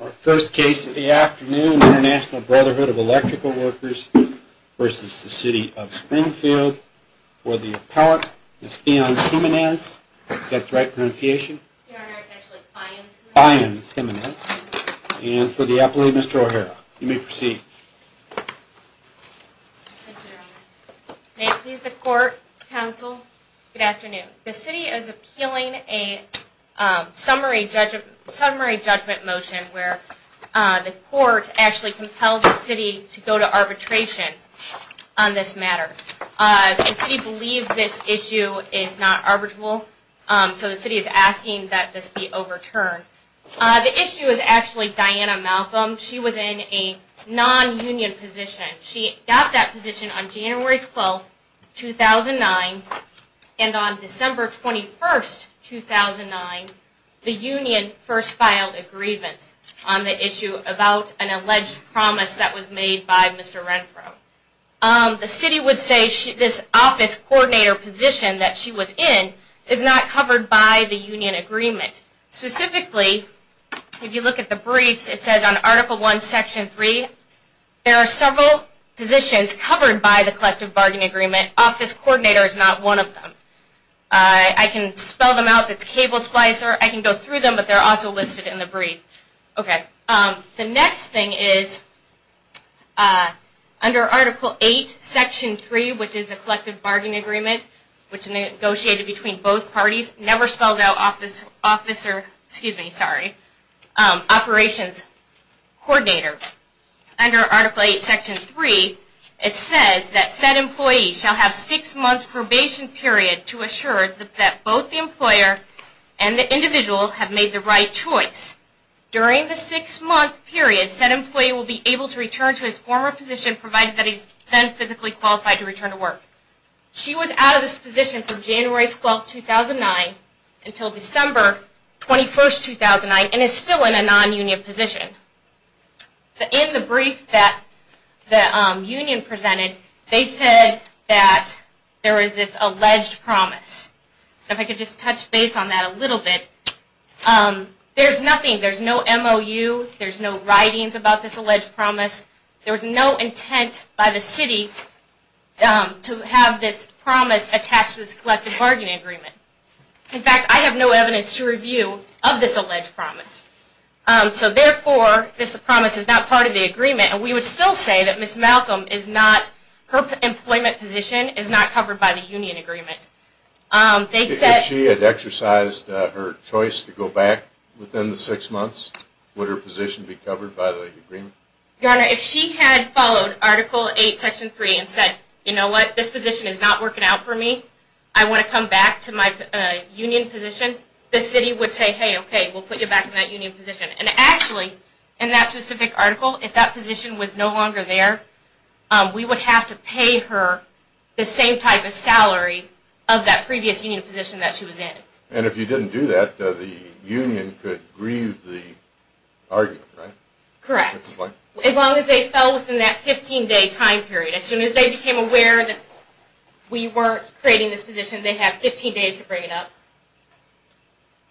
Our first case of the afternoon, International Brotherhood of Electrical Workers v. City of Springfield, for the appellate, Ms. Fion Simenez, and for the appellate, Mr. O'Hara. You may proceed. May it please the court, counsel, good afternoon. The city is appealing a summary judgment motion where the court actually compelled the city to go to arbitration on this matter. The city believes this issue is not arbitrable, so the city is asking that this be overturned. The issue is actually Diana Malcolm. She was in a non-union position. She got that position on January 12, 2009, and on December 21, 2009, the union first filed a grievance on the issue about an alleged promise that was made by Mr. Renfro. The city would say this office coordinator position that she was in is not covered by the union agreement. Specifically, if you look at the briefs, it says on Article I, Section 3, there are several positions covered by the collective bargaining agreement. Office coordinator is not one of them. I can spell them out. It's cable splicer. I can go through them, but they're also listed in the brief. The next thing is under Article VIII, Section 3, which is the collective bargaining agreement, which is negotiated between both parties, never spells out operations coordinator. Under Article VIII, Section 3, it says that said employee shall have six months probation period to assure that both the employer and the individual have made the right choice. During the six-month period, said employee will be able to return to his former position provided that he is then physically qualified to return to work. She was out of this position from January 12, 2009 until December 21, 2009, and is still in a non-union position. In the brief that the union presented, they said that there is this alleged promise. If I could just touch base on that a little bit. There's nothing. There's no MOU. There's no writings about this alleged promise. There was no intent by the city to have this promise attached to this collective bargaining agreement. In fact, I have no evidence to review of this alleged promise. Therefore, this promise is not part of the agreement. We would still say that Ms. Malcolm, her employment position is not covered by the union agreement. If she had exercised her choice to go back within the six months, would her position be covered by the agreement? Your Honor, if she had followed Article 8, Section 3 and said, you know what, this position is not working out for me, I want to come back to my union position, the city would say, hey, okay, we'll put you back in that union position. And actually, in that specific article, if that position was no longer there, we would have to pay her the same type of salary of that previous union position that she was in. And if you didn't do that, the union could grieve the argument, right? Correct. As long as they fell within that 15-day time period. As soon as they became aware that we weren't creating this position, they have 15 days to bring it up.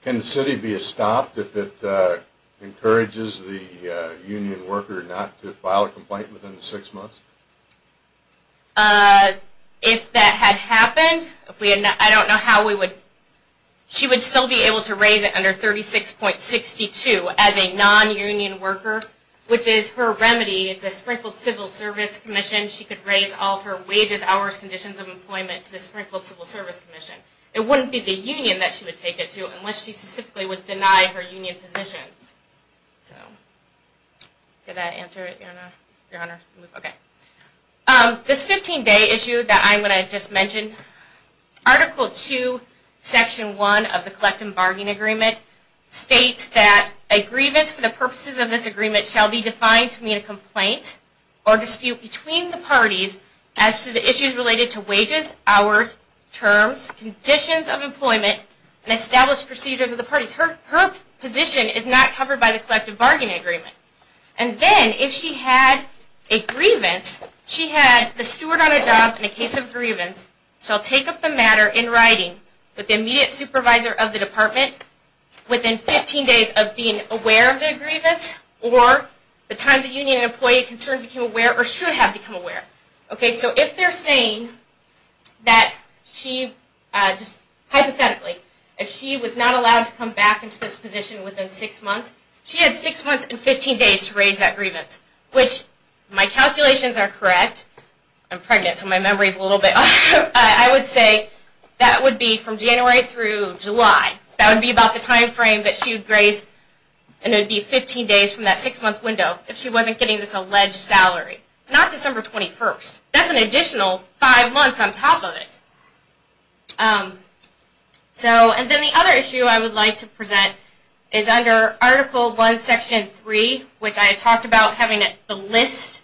Can the city be stopped if it encourages the union worker not to file a complaint within the six months? If that had happened, I don't know how we would... she would still be able to raise it under 36.62 as a non-union worker, which is her remedy. It's a sprinkled civil service commission. She could raise all of her wages, hours, conditions of employment to the sprinkled civil service commission. It wouldn't be the union that she would take it to unless she specifically was denied her union position. Did that answer it, Your Honor? This 15-day issue that I just mentioned, Article 2, Section 1 of the Collective Bargaining Agreement states that a grievance for the purposes of this agreement shall be defined to mean a complaint or dispute between the parties as to the issues related to wages, hours, terms, conditions of employment, and established procedures of the parties. Her position is not covered by the Collective Bargaining Agreement. And then, if she had a grievance, she had the steward on a job in a case of grievance shall take up the matter in writing with the immediate supervisor of the department within 15 days of being aware of the grievance or the time the union employee concerned became aware or should have become aware. Okay, so if they're saying that she, just hypothetically, if she was not allowed to come back into this position within six months, she had six months and 15 days to raise that grievance, which my calculations are correct. I'm pregnant, so my memory is a little bit off. I would say that would be from January through July. That would be about the time frame that she would raise, and it would be 15 days from that six-month window if she wasn't getting this alleged salary. Not December 21st. That's an additional five months on top of it. So, and then the other issue I would like to present is under Article 1, Section 3, which I talked about having the list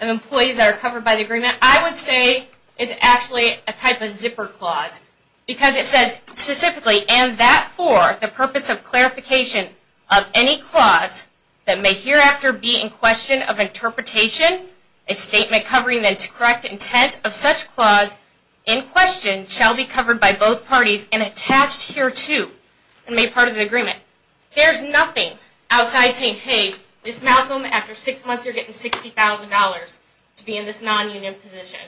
of employees that are covered by the agreement. And I would say it's actually a type of zipper clause because it says, specifically, and that for the purpose of clarification of any clause that may hereafter be in question of interpretation, a statement covering the correct intent of such clause in question shall be covered by both parties and attached hereto and made part of the agreement. There's nothing outside saying, hey, Ms. Malcolm, after six months you're getting $60,000 to be in this non-union position.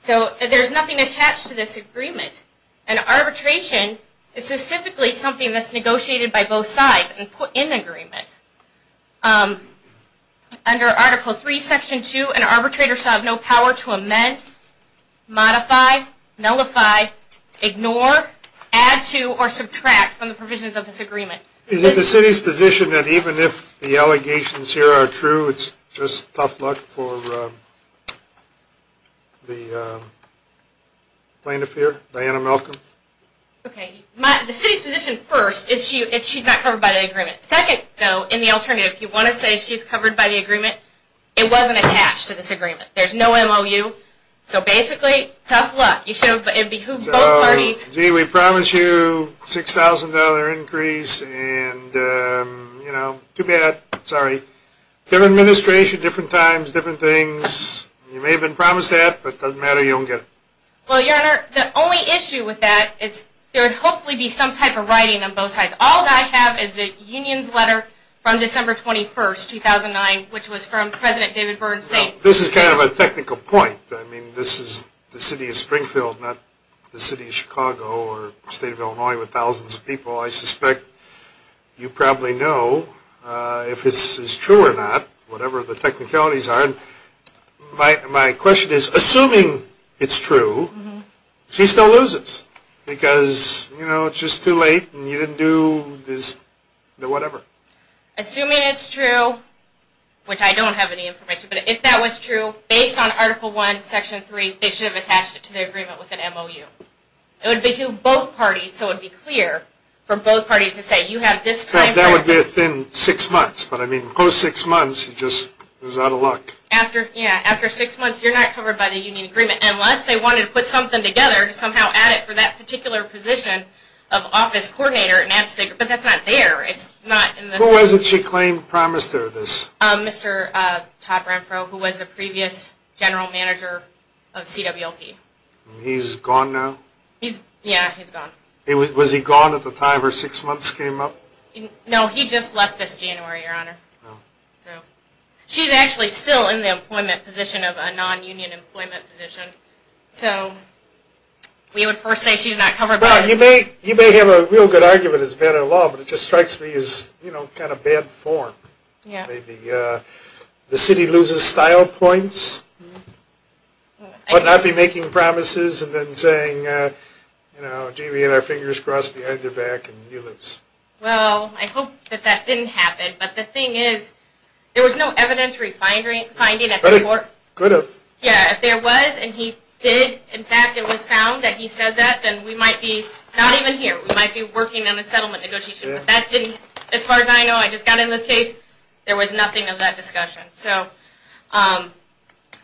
So, there's nothing attached to this agreement. And arbitration is specifically something that's negotiated by both sides and put in the agreement. Under Article 3, Section 2, an arbitrator shall have no power to amend, modify, nullify, ignore, add to, or subtract from the provisions of this agreement. Is it the city's position that even if the allegations here are true, it's just tough luck for the plaintiff here, Diana Malcolm? Okay. The city's position first is she's not covered by the agreement. Second, though, in the alternative, if you want to say she's covered by the agreement, it wasn't attached to this agreement. There's no MOU. So, basically, tough luck. You should have behooved both parties. So, gee, we promised you $6,000 increase and, you know, too bad. Sorry. Different administration, different times, different things. You may have been promised that, but it doesn't matter. You don't get it. Well, Your Honor, the only issue with that is there would hopefully be some type of writing on both sides. All I have is the union's letter from December 21st, 2009, which was from President David Byrd's state. This is kind of a technical point. I mean, this is the city of Springfield, not the city of Chicago or the state of Illinois with thousands of people. I suspect you probably know if this is true or not, whatever the technicalities are. My question is, assuming it's true, she still loses because, you know, it's just too late and you didn't do this, whatever. Assuming it's true, which I don't have any information, but if that was true, based on Article I, Section 3, they should have attached it to the agreement with an MOU. It would behoove both parties, so it would be clear for both parties to say you have this time frame. It would be within six months, but, I mean, post-six months, you're just out of luck. After six months, you're not covered by the union agreement, unless they wanted to put something together to somehow add it for that particular position of office coordinator. But that's not there. Who was it she claimed promised her this? Mr. Topper, who was a previous general manager of CWLP. He's gone now? Yeah, he's gone. Was he gone at the time her six months came up? No, he just left this January, Your Honor. She's actually still in the employment position of a non-union employment position. So we would first say she's not covered by it. Well, you may have a real good argument as better law, but it just strikes me as kind of bad form. Maybe the city loses style points, but not be making promises and then saying, you know, I hope that that didn't happen. But the thing is, there was no evidentiary finding at the court. But it could have. Yeah, if there was and he did, in fact, it was found that he said that, then we might be not even here. We might be working on a settlement negotiation. But that didn't, as far as I know, I just got in this case, there was nothing of that discussion.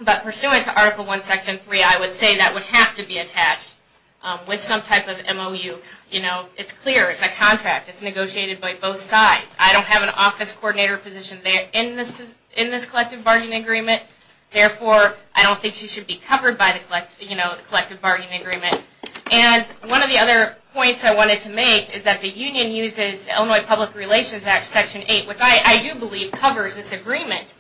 But pursuant to Article I, Section 3, I would say that would have to be attached with some type of MOU. You know, it's clear. It's a contract. It's negotiated by both sides. I don't have an office coordinator position in this collective bargaining agreement. Therefore, I don't think she should be covered by the collective bargaining agreement. And one of the other points I wanted to make is that the union uses Illinois Public Relations Act, Section 8, which I do believe covers this agreement.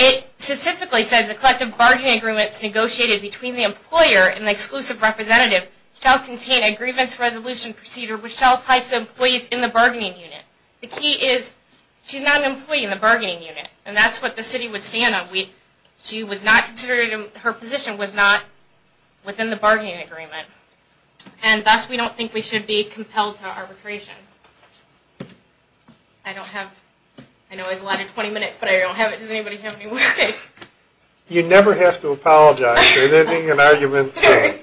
It specifically says the collective bargaining agreement is negotiated between the employer and the exclusive representative shall contain a grievance resolution procedure, which shall apply to the employees in the bargaining unit. The key is she's not an employee in the bargaining unit. And that's what the city would stand on. She was not considered, her position was not within the bargaining agreement. And thus, we don't think we should be compelled to arbitration. I don't have, I know I was allotted 20 minutes, but I don't have it. Does anybody have any more? You never have to apologize for ending an argument today.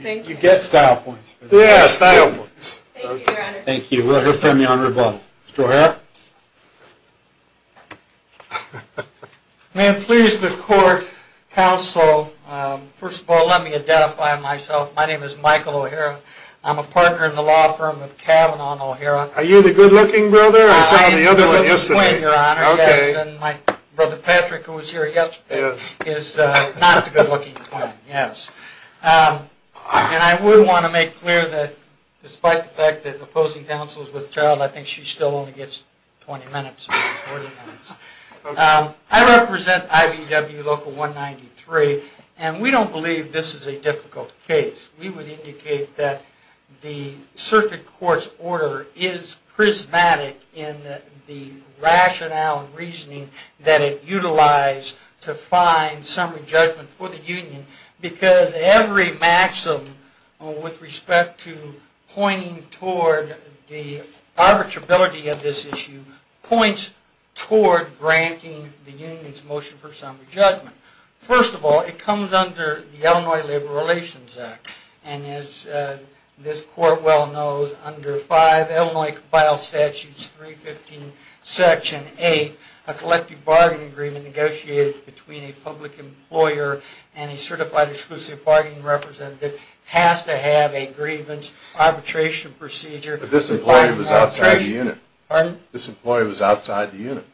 You get style points. Yeah, style points. Thank you, Your Honor. Thank you. We'll hear from you on rebuttal. Mr. O'Hara? May it please the court, counsel, first of all, let me identify myself. My name is Michael O'Hara. I'm a partner in the law firm of Kavanaugh and O'Hara. Are you the good-looking brother? I saw the other one yesterday. My brother Patrick, who was here yesterday, is not the good-looking twin, yes. And I would want to make clear that despite the fact that opposing counsel is with child, I think she still only gets 20 minutes. I represent IBEW Local 193, and we don't believe this is a difficult case. We would indicate that the circuit court's order is prismatic in the rationale and reasoning that it utilized to find summary judgment for the union because every maxim with respect to pointing toward the arbitrability of this issue points toward granting the union's motion for summary judgment. First of all, it comes under the Illinois Labor Relations Act, and as this court well knows, under 5 Illinois Compile Statutes 315, Section 8, a collective bargaining agreement negotiated between a public employer and a certified exclusive bargaining representative has to have a grievance arbitration procedure. But this employee was outside the unit. Pardon? This employee was outside the unit.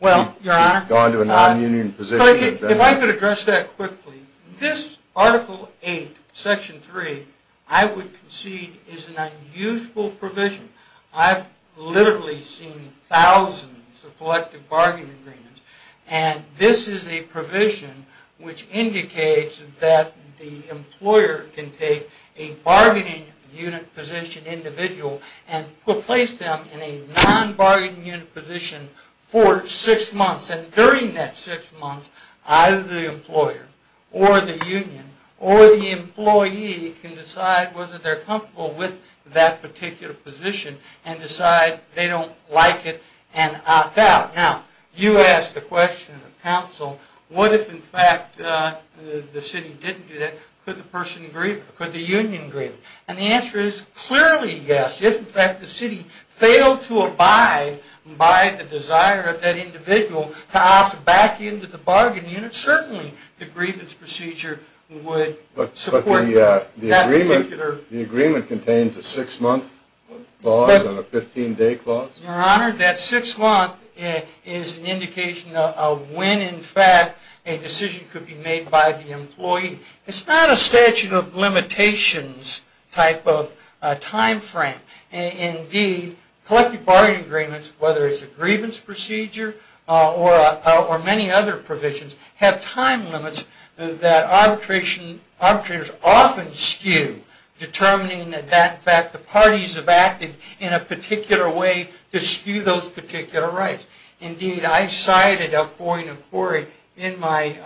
Well, Your Honor, if I could address that quickly. This Article 8, Section 3, I would concede is an unusual provision. I've literally seen thousands of collective bargaining agreements, and this is a provision which indicates that the employer can take a bargaining unit position individual and replace them in a non-bargaining unit position for six months. And during that six months, either the employer or the union or the employee can decide whether they're comfortable with that particular position and decide they don't like it and opt out. Now, you asked the question of counsel, what if in fact the city didn't do that, could the person grieve it, could the union grieve it? And the answer is clearly yes. If in fact the city failed to abide by the desire of that individual to opt back into the bargaining unit, certainly the grievance procedure would support that particular. But the agreement contains a six-month clause and a 15-day clause? Your Honor, that six months is an indication of when in fact a decision could be made by the employee. It's not a statute of limitations type of time frame. Indeed, collective bargaining agreements, whether it's a grievance procedure or many other provisions, have time limits that arbitrators often skew, determining that in fact the parties have acted in a particular way to skew those particular rights. Indeed, I cited a point of query in my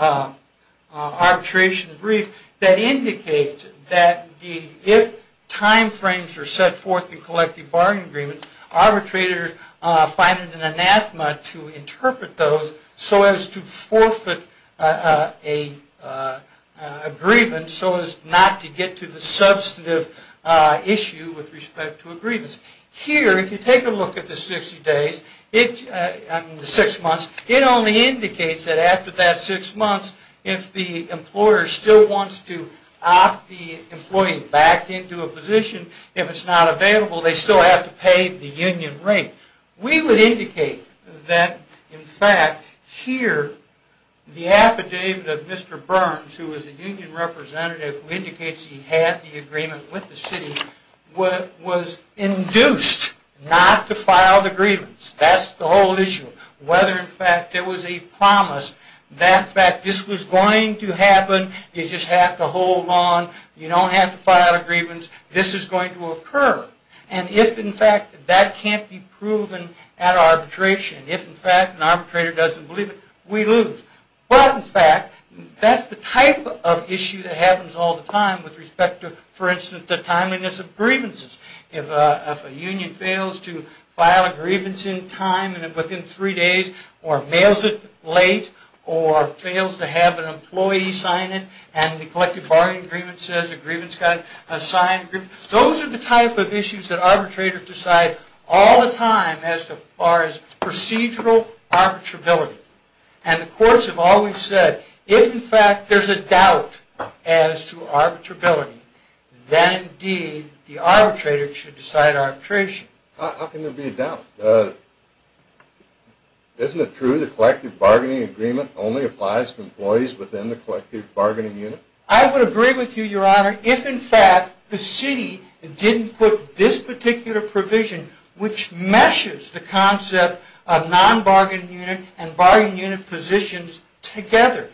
arbitration brief that indicates that if time frames are set forth in collective bargaining agreements, arbitrators find it an anathema to interpret those so as to forfeit a grievance, so as not to get to the substantive issue with respect to a grievance. Here, if you take a look at the six months, it only indicates that after that six months, if the employer still wants to opt the employee back into a position, if it's not available, they still have to pay the union rate. We would indicate that in fact here the affidavit of Mr. Burns, who was the union representative who indicates he had the agreement with the city, was induced not to file the grievance. That's the whole issue. Whether in fact there was a promise that in fact this was going to happen, you just have to hold on, you don't have to file a grievance, this is going to occur. And if in fact that can't be proven at arbitration, if in fact an arbitrator doesn't believe it, we lose. But in fact, that's the type of issue that happens all the time with respect to, for instance, the timeliness of grievances. If a union fails to file a grievance in time and within three days, or mails it late, or fails to have an employee sign it, and the collective bargaining agreement says a grievance has got to be signed. Those are the type of issues that arbitrators decide all the time as far as procedural arbitrability. And the courts have always said, if in fact there's a doubt as to arbitrability, then indeed the arbitrator should decide arbitration. How can there be a doubt? Isn't it true the collective bargaining agreement only applies to employees within the collective bargaining unit? I would agree with you, Your Honor, if in fact the city didn't put this particular provision, which meshes the concept of non-bargaining unit and bargaining unit positions together.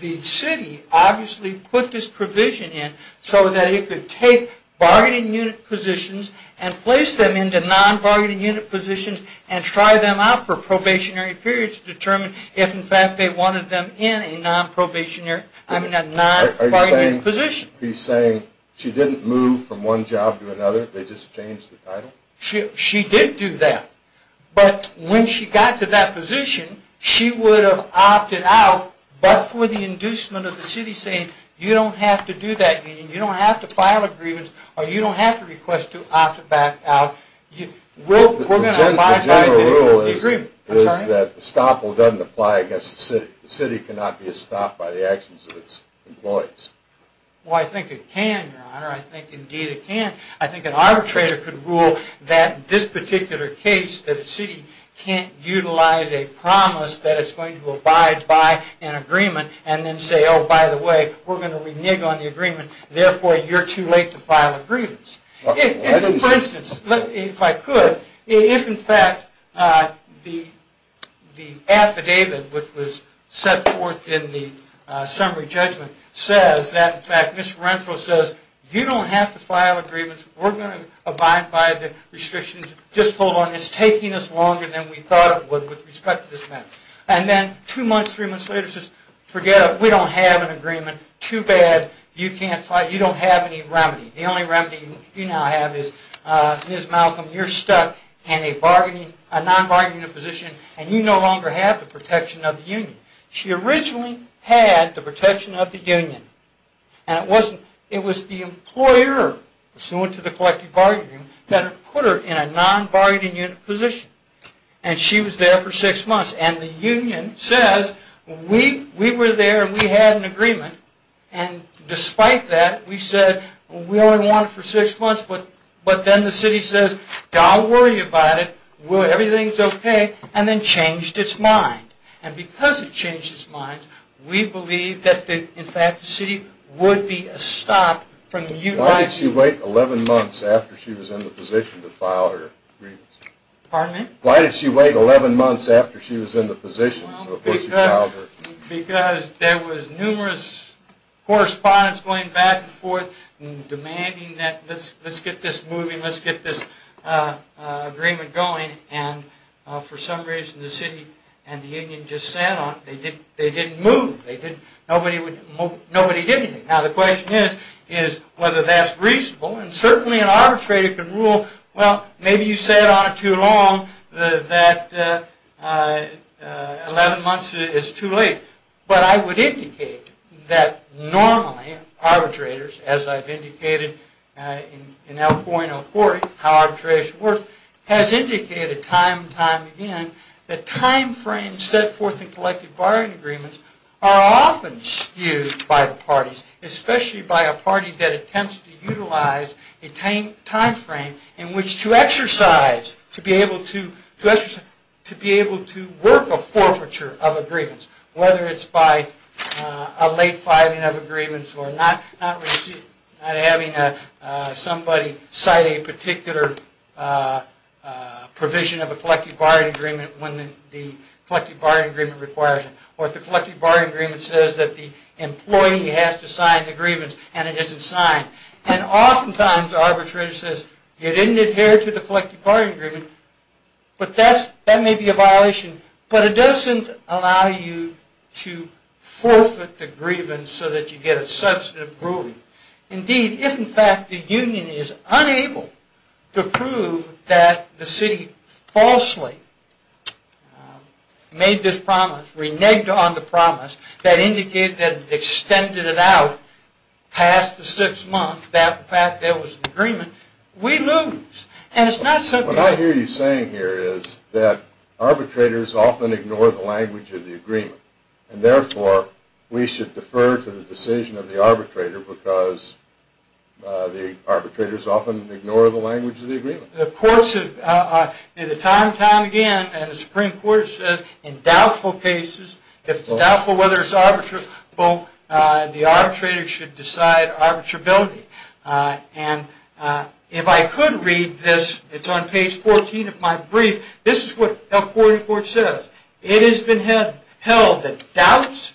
The city obviously put this provision in so that it could take bargaining unit positions and place them into non-bargaining unit positions and try them out for probationary periods to determine if in fact they wanted them in a non-probationary, I mean a non-bargaining unit position. Are you saying she didn't move from one job to another, they just changed the title? She did do that. But when she got to that position, she would have opted out, but for the inducement of the city saying, you don't have to do that, you don't have to file a grievance, or you don't have to request to opt back out, we're going to abide by the agreement. The general rule is that the stopple doesn't apply against the city. The city cannot be stopped by the actions of its employees. Well I think it can, Your Honor, I think indeed it can. I think an arbitrator could rule that this particular case, that a city can't utilize a promise that it's going to abide by an agreement, and then say, oh by the way, we're going to renege on the agreement, therefore you're too late to file a grievance. For instance, if I could, if in fact the affidavit which was set forth in the summary judgment says that in fact, Mr. Renfrow says, you don't have to file a grievance, we're going to abide by the restrictions, just hold on, it's taking us longer than we thought it would with respect to this matter. And then two months, three months later it says, forget it, we don't have an agreement, too bad, you can't file, you don't have any remedy. The only remedy you now have is, Ms. Malcolm, you're stuck in a non-bargaining position, and you no longer have the protection of the union. She originally had the protection of the union, and it was the employer, pursuant to the collective bargaining, that put her in a non-bargaining unit position, and she was there for six months. And the union says, we were there and we had an agreement, and despite that we said, we only want it for six months, but then the city says, don't worry about it, everything's okay, and then changed its mind. And because it changed its mind, we believe that in fact, the city would be stopped. Why did she wait 11 months after she was in the position to file her agreement? Pardon me? Why did she wait 11 months after she was in the position before she filed her agreement? Because there was numerous correspondence going back and forth, demanding that let's get this moving, let's get this agreement going, and for some reason the city and the union just sat on it. They didn't move. Nobody did anything. Now the question is, is whether that's reasonable, and certainly an arbitrator can rule, well, maybe you sat on it too long, that 11 months is too late. But I would indicate that normally, arbitrators, as I've indicated, in L4 and L4, how arbitration works, has indicated time and time again, that timeframes set forth in collective bargaining agreements are often skewed by the parties, especially by a party that attempts to utilize a timeframe in which to exercise, to be able to work a forfeiture of agreements, whether it's by a late filing of agreements or not having somebody cite a particular provision of a collective bargaining agreement when the collective bargaining agreement requires it, or if the collective bargaining agreement says that the employee has to sign the grievance and it isn't signed. And oftentimes the arbitrator says, you didn't adhere to the collective bargaining agreement, but that may be a violation, but it doesn't allow you to forfeit the grievance so that you get a substantive ruling. Indeed, if in fact the union is unable to prove that the city falsely made this promise, reneged on the promise, that indicated, extended it out past the six months that there was an agreement, we lose. And it's not simply... What I hear you saying here is that arbitrators often ignore the language of the agreement, and therefore we should defer to the decision of the arbitrator because the arbitrators often ignore the language of the agreement. Of course, time and time again, the Supreme Court says, in doubtful cases, if it's doubtful whether it's arbitrable, the arbitrator should decide arbitrability. And if I could read this, it's on page 14 of my brief, this is what a court of court says. It has been held that doubts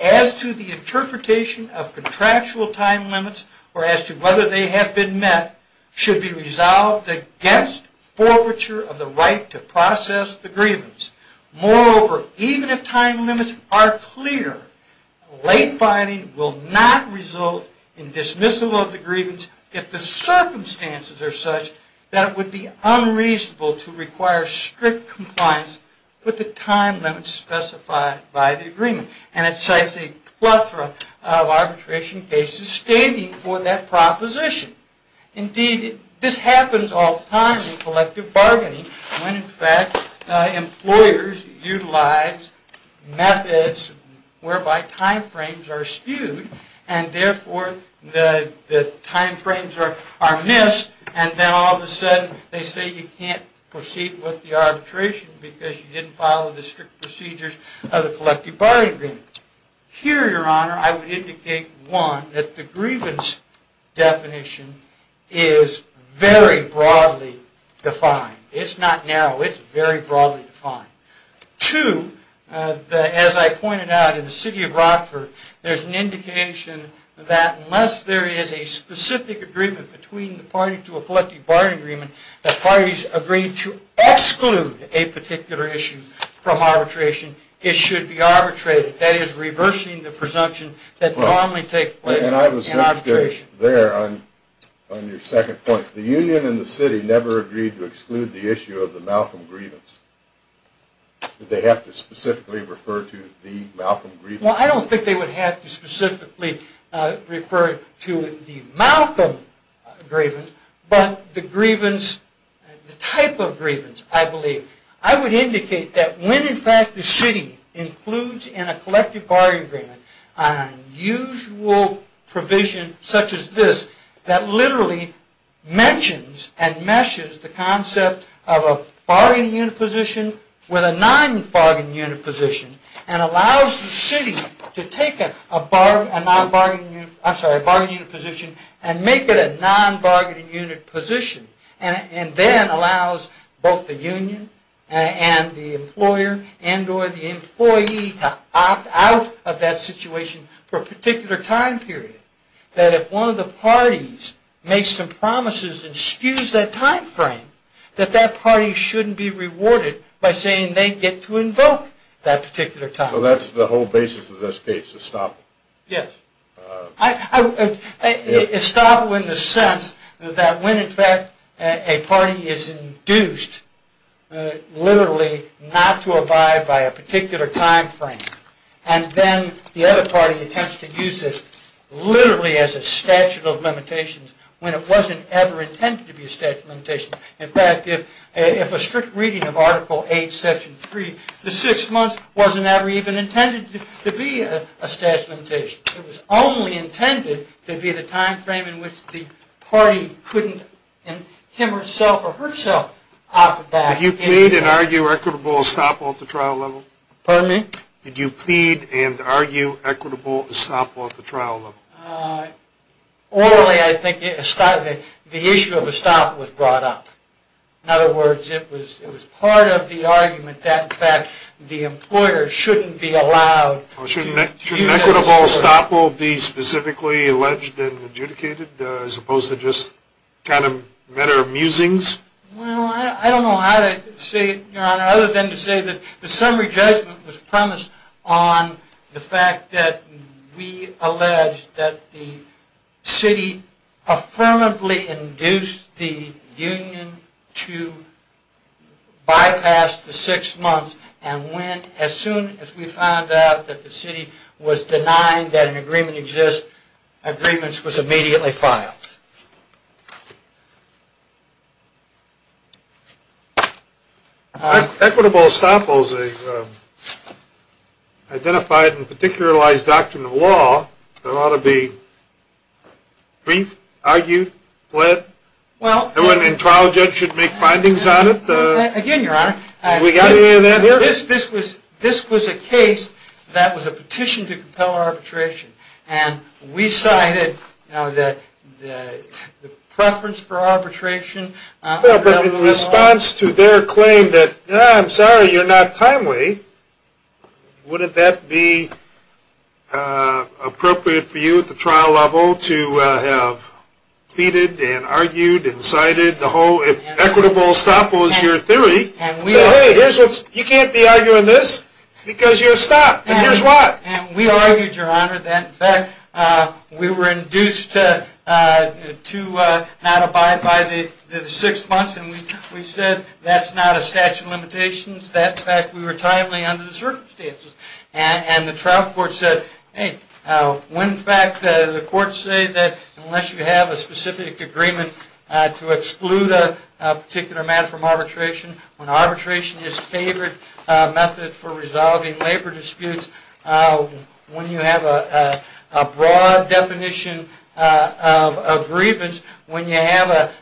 as to the interpretation of contractual time limits or as to whether they have been met should be resolved against forfeiture of the right to process the grievance. Moreover, even if time limits are clear, late finding will not result in dismissal of the grievance if the circumstances are such that it would be unreasonable to require strict compliance with the time limits specified by the agreement. And it cites a plethora of arbitration cases standing for that proposition. Indeed, this happens all the time in collective bargaining when, in fact, employers utilize methods whereby time frames are skewed and, therefore, the time frames are missed and then all of a sudden they say you can't proceed with the arbitration because you didn't follow the strict procedures of the collective bargaining agreement. Here, Your Honor, I would indicate, one, that the grievance definition is very broadly defined. It's not narrow. It's very broadly defined. Two, as I pointed out, in the city of Rockford there's an indication that unless there is a specific agreement between the party to a collective bargaining agreement that parties agree to exclude a particular issue from arbitration, it should be arbitrated. That is, reversing the presumption that normally takes place in arbitration. And I was interested there on your second point. The union and the city never agreed to exclude the issue of the Malcolm grievance. Did they have to specifically refer to the Malcolm grievance? Well, I don't think they would have to specifically refer to the Malcolm grievance, but the grievance, the type of grievance, I believe. I would indicate that when, in fact, the city includes in a collective bargaining agreement an unusual provision such as this that literally mentions and meshes the concept of a bargaining unit position with a non-bargaining unit position and allows the city to take a non-bargaining unit, I'm sorry, a bargaining unit position and make it a non-bargaining unit position and then allows both the union and the employer and or the employee to opt out of that situation for a particular time period that if one of the parties makes some promises and skews that time frame that that party shouldn't be rewarded by saying they get to invoke that particular time frame. So that's the whole basis of this case, Establo. Yes. Establo in the sense that when, in fact, a party is induced literally not to abide by a particular time frame and then the other party attempts to use this literally as a statute of limitations when it wasn't ever intended to be a statute of limitations. In fact, if a strict reading of Article 8, Section 3 the six months wasn't ever even intended to be a statute of limitations. It was only intended to be the time frame in which the party couldn't him or herself or herself opt back in. You plead and argue equitable Establo at the trial level? Pardon me? Did you plead and argue equitable Establo at the trial level? Orally I think the issue of Establo was brought up. In other words, it was part of the argument that in fact the employer shouldn't be allowed to use Establo. Shouldn't equitable Establo be specifically alleged and adjudicated as opposed to just kind of matter of musings? Well, I don't know how to say it, Your Honor, other than to say that the summary judgment was premised on the fact that we allege that the city affirmably induced the union to bypass the six months and when as soon as we found out that the city was denying that an agreement exists agreements was immediately filed. Equitable Establo is a identified and particularized doctrine of law that ought to be briefed, argued, pled, and when a trial judge should make findings on it? Again, Your Honor, this was a case that was a petition to compel arbitration and we cited the preference for arbitration. But in response to their claim that, I'm sorry, you're not timely, wouldn't that be appropriate for you at the trial level to have pleaded and argued and cited the whole Equitable Establo is your theory? I said, hey, you can't be arguing this because you're stopped and here's why. And we argued, Your Honor, that in fact we were induced to not abide by the six months and we said that's not a statute of limitations, that in fact we were timely under the circumstances. And the trial court said, hey, when in fact the courts say that unless you have a specific agreement to exclude a particular man from arbitration, when arbitration is favored method for resolving labor disputes, when you have a broad definition of grievance, when you have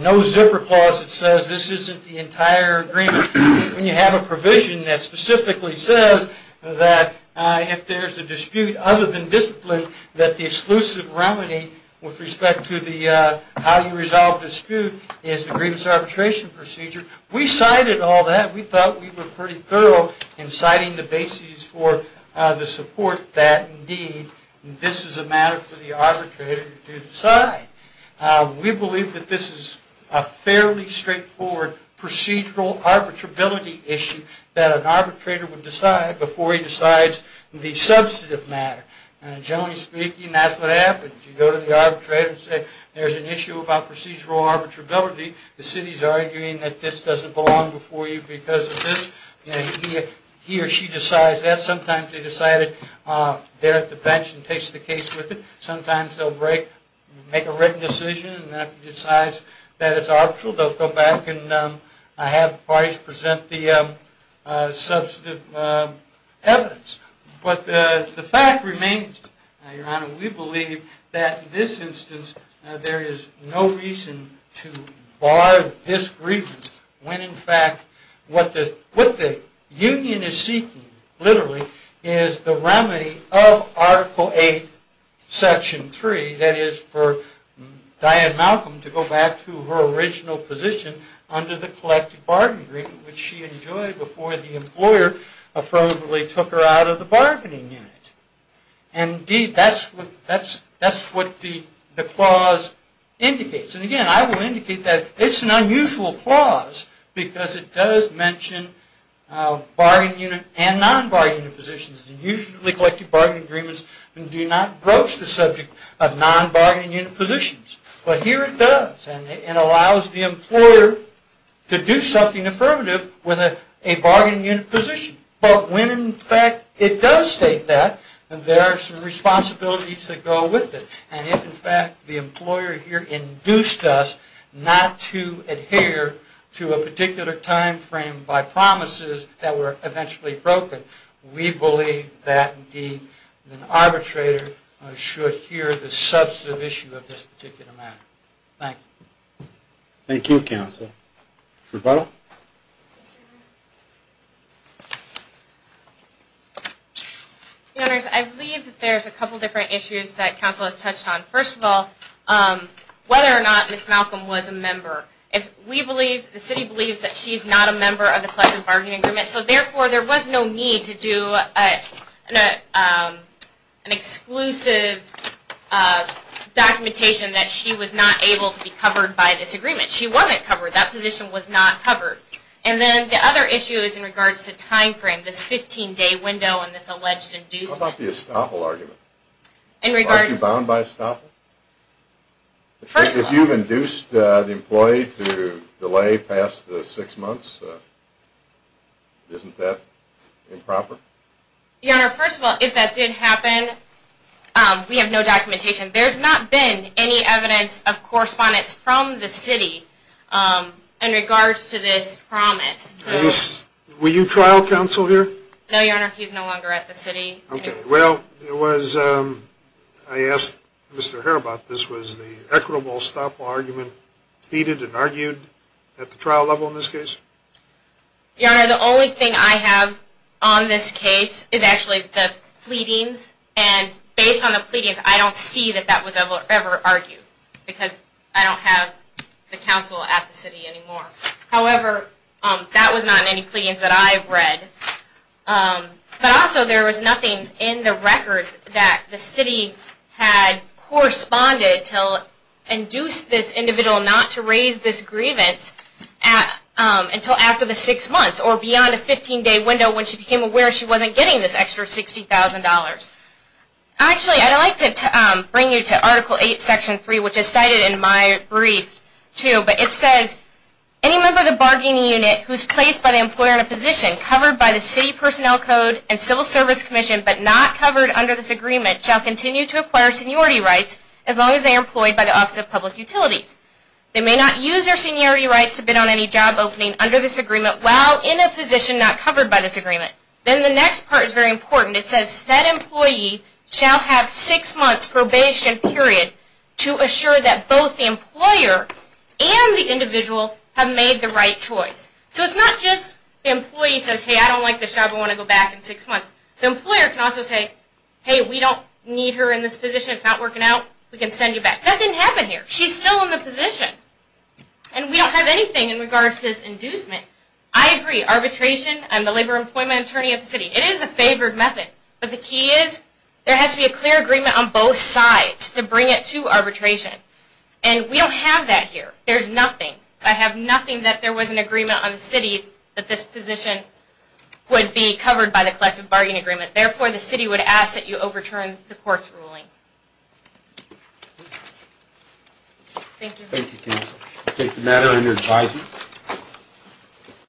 no zipper clause that says this isn't the entire agreement, when you have a provision that specifically says that if there's a dispute other than discipline that the exclusive remedy with respect to the how you resolve dispute is the grievance arbitration procedure, we cited all that. We thought we were pretty thorough in citing the basis for the support that indeed this is a matter for the arbitrator to decide. We believe that this is a fairly straightforward procedural arbitrability issue that an arbitrator would decide before he decides the substantive matter. Generally speaking that's what happens. You go to the arbitrator and say there's an issue about procedural arbitrability. The city's arguing that this doesn't belong before you because of this. He or she decides that. Sometimes they go back and have the parties present the substantive evidence. The fact remains we believe that in this instance there is no reason to bar this grievance when in fact what the union is seeking literally is the remedy of Article 8 Section 3 that is for Diane Malcolm to go back to her original position under the collective bargaining agreement which she enjoyed before the employer affirmatively took her out of the bargaining unit. Indeed that's what the clause indicates. And again I will indicate that it's an unusual clause because it does mention bargaining unit and non-bargaining unit positions and usually collective bargaining agreements do not broach the subject of non-bargaining unit positions. But here it does and allows the employer to do something affirmative with a bargaining unit position. But when in fact it does state that there are some unit positions that were eventually broken, we believe that the arbitrator should hear the substantive issue of this particular matter. Thank you. Thank you counsel. Rebuttal? I believe that there's a couple different issues that counsel has touched on. First of all, whether or not Ms. Malcolm was a member. If we believe, the city believes that she's not a member of the collective bargaining agreement, so therefore there was no need to do an exclusive documentation that she was not able to be covered by this agreement. She wasn't covered. That position was not covered. And then the other issue is in regards to time frame, this 15-day window and this alleged inducement. How about the estoppel argument? Are you bound by estoppel? First of all. If you've induced the employee to delay past the six months, isn't that improper? Your Honor, first of all, if that did happen, we have documentation. There's not been any evidence of correspondence from the city in regards to this promise. Were you trial counsel here? No, Your Honor. He's no longer at the city. Okay. Well, I asked Mr. Herr about this. Was the equitable estoppel argument at the trial level in this case? Your Honor, the only thing I have on this case is actually the pleadings and based on the pleadings, I don't see that that was ever argued because I don't have the counsel at the city anymore. However, that was not in any pleadings that I've read. But also there was nothing in the record that the city had corresponded to induce this individual not to raise this grievance until after the six months or beyond a 15-day window when she became aware she wasn't getting this extra $60,000. Actually, I'd like to bring you to Article 8, Section 3, which is cited in my brief, too, but it says, Any member of the bargaining unit who is placed by the employer in a position covered by the City Personnel Code and Civil Service Commission, but not covered under this agreement, shall continue to acquire seniority rights as long as they are employed by the Office of Public Utilities. They may not use their seniority rights to bid on any job opening under this agreement while in a position not covered by this agreement. Then the next part is very important. It says, Said employee shall have six months probation period to assure that both the employer and the individual have made the right choice. So it's not just the employee says, Hey, I don't like this job. I want to go back in six months. The employer can also say, Hey, we don't need her in this position. It's not working out. We can send you back. That didn't happen here. She's still in the position. We don't have that here. There's nothing. I have nothing that there was an agreement on the city that this position would be covered by the collective bargaining agreement. Therefore, the city would ask that you overturn the court's ruling. Thank you. Thank you, counsel. I take the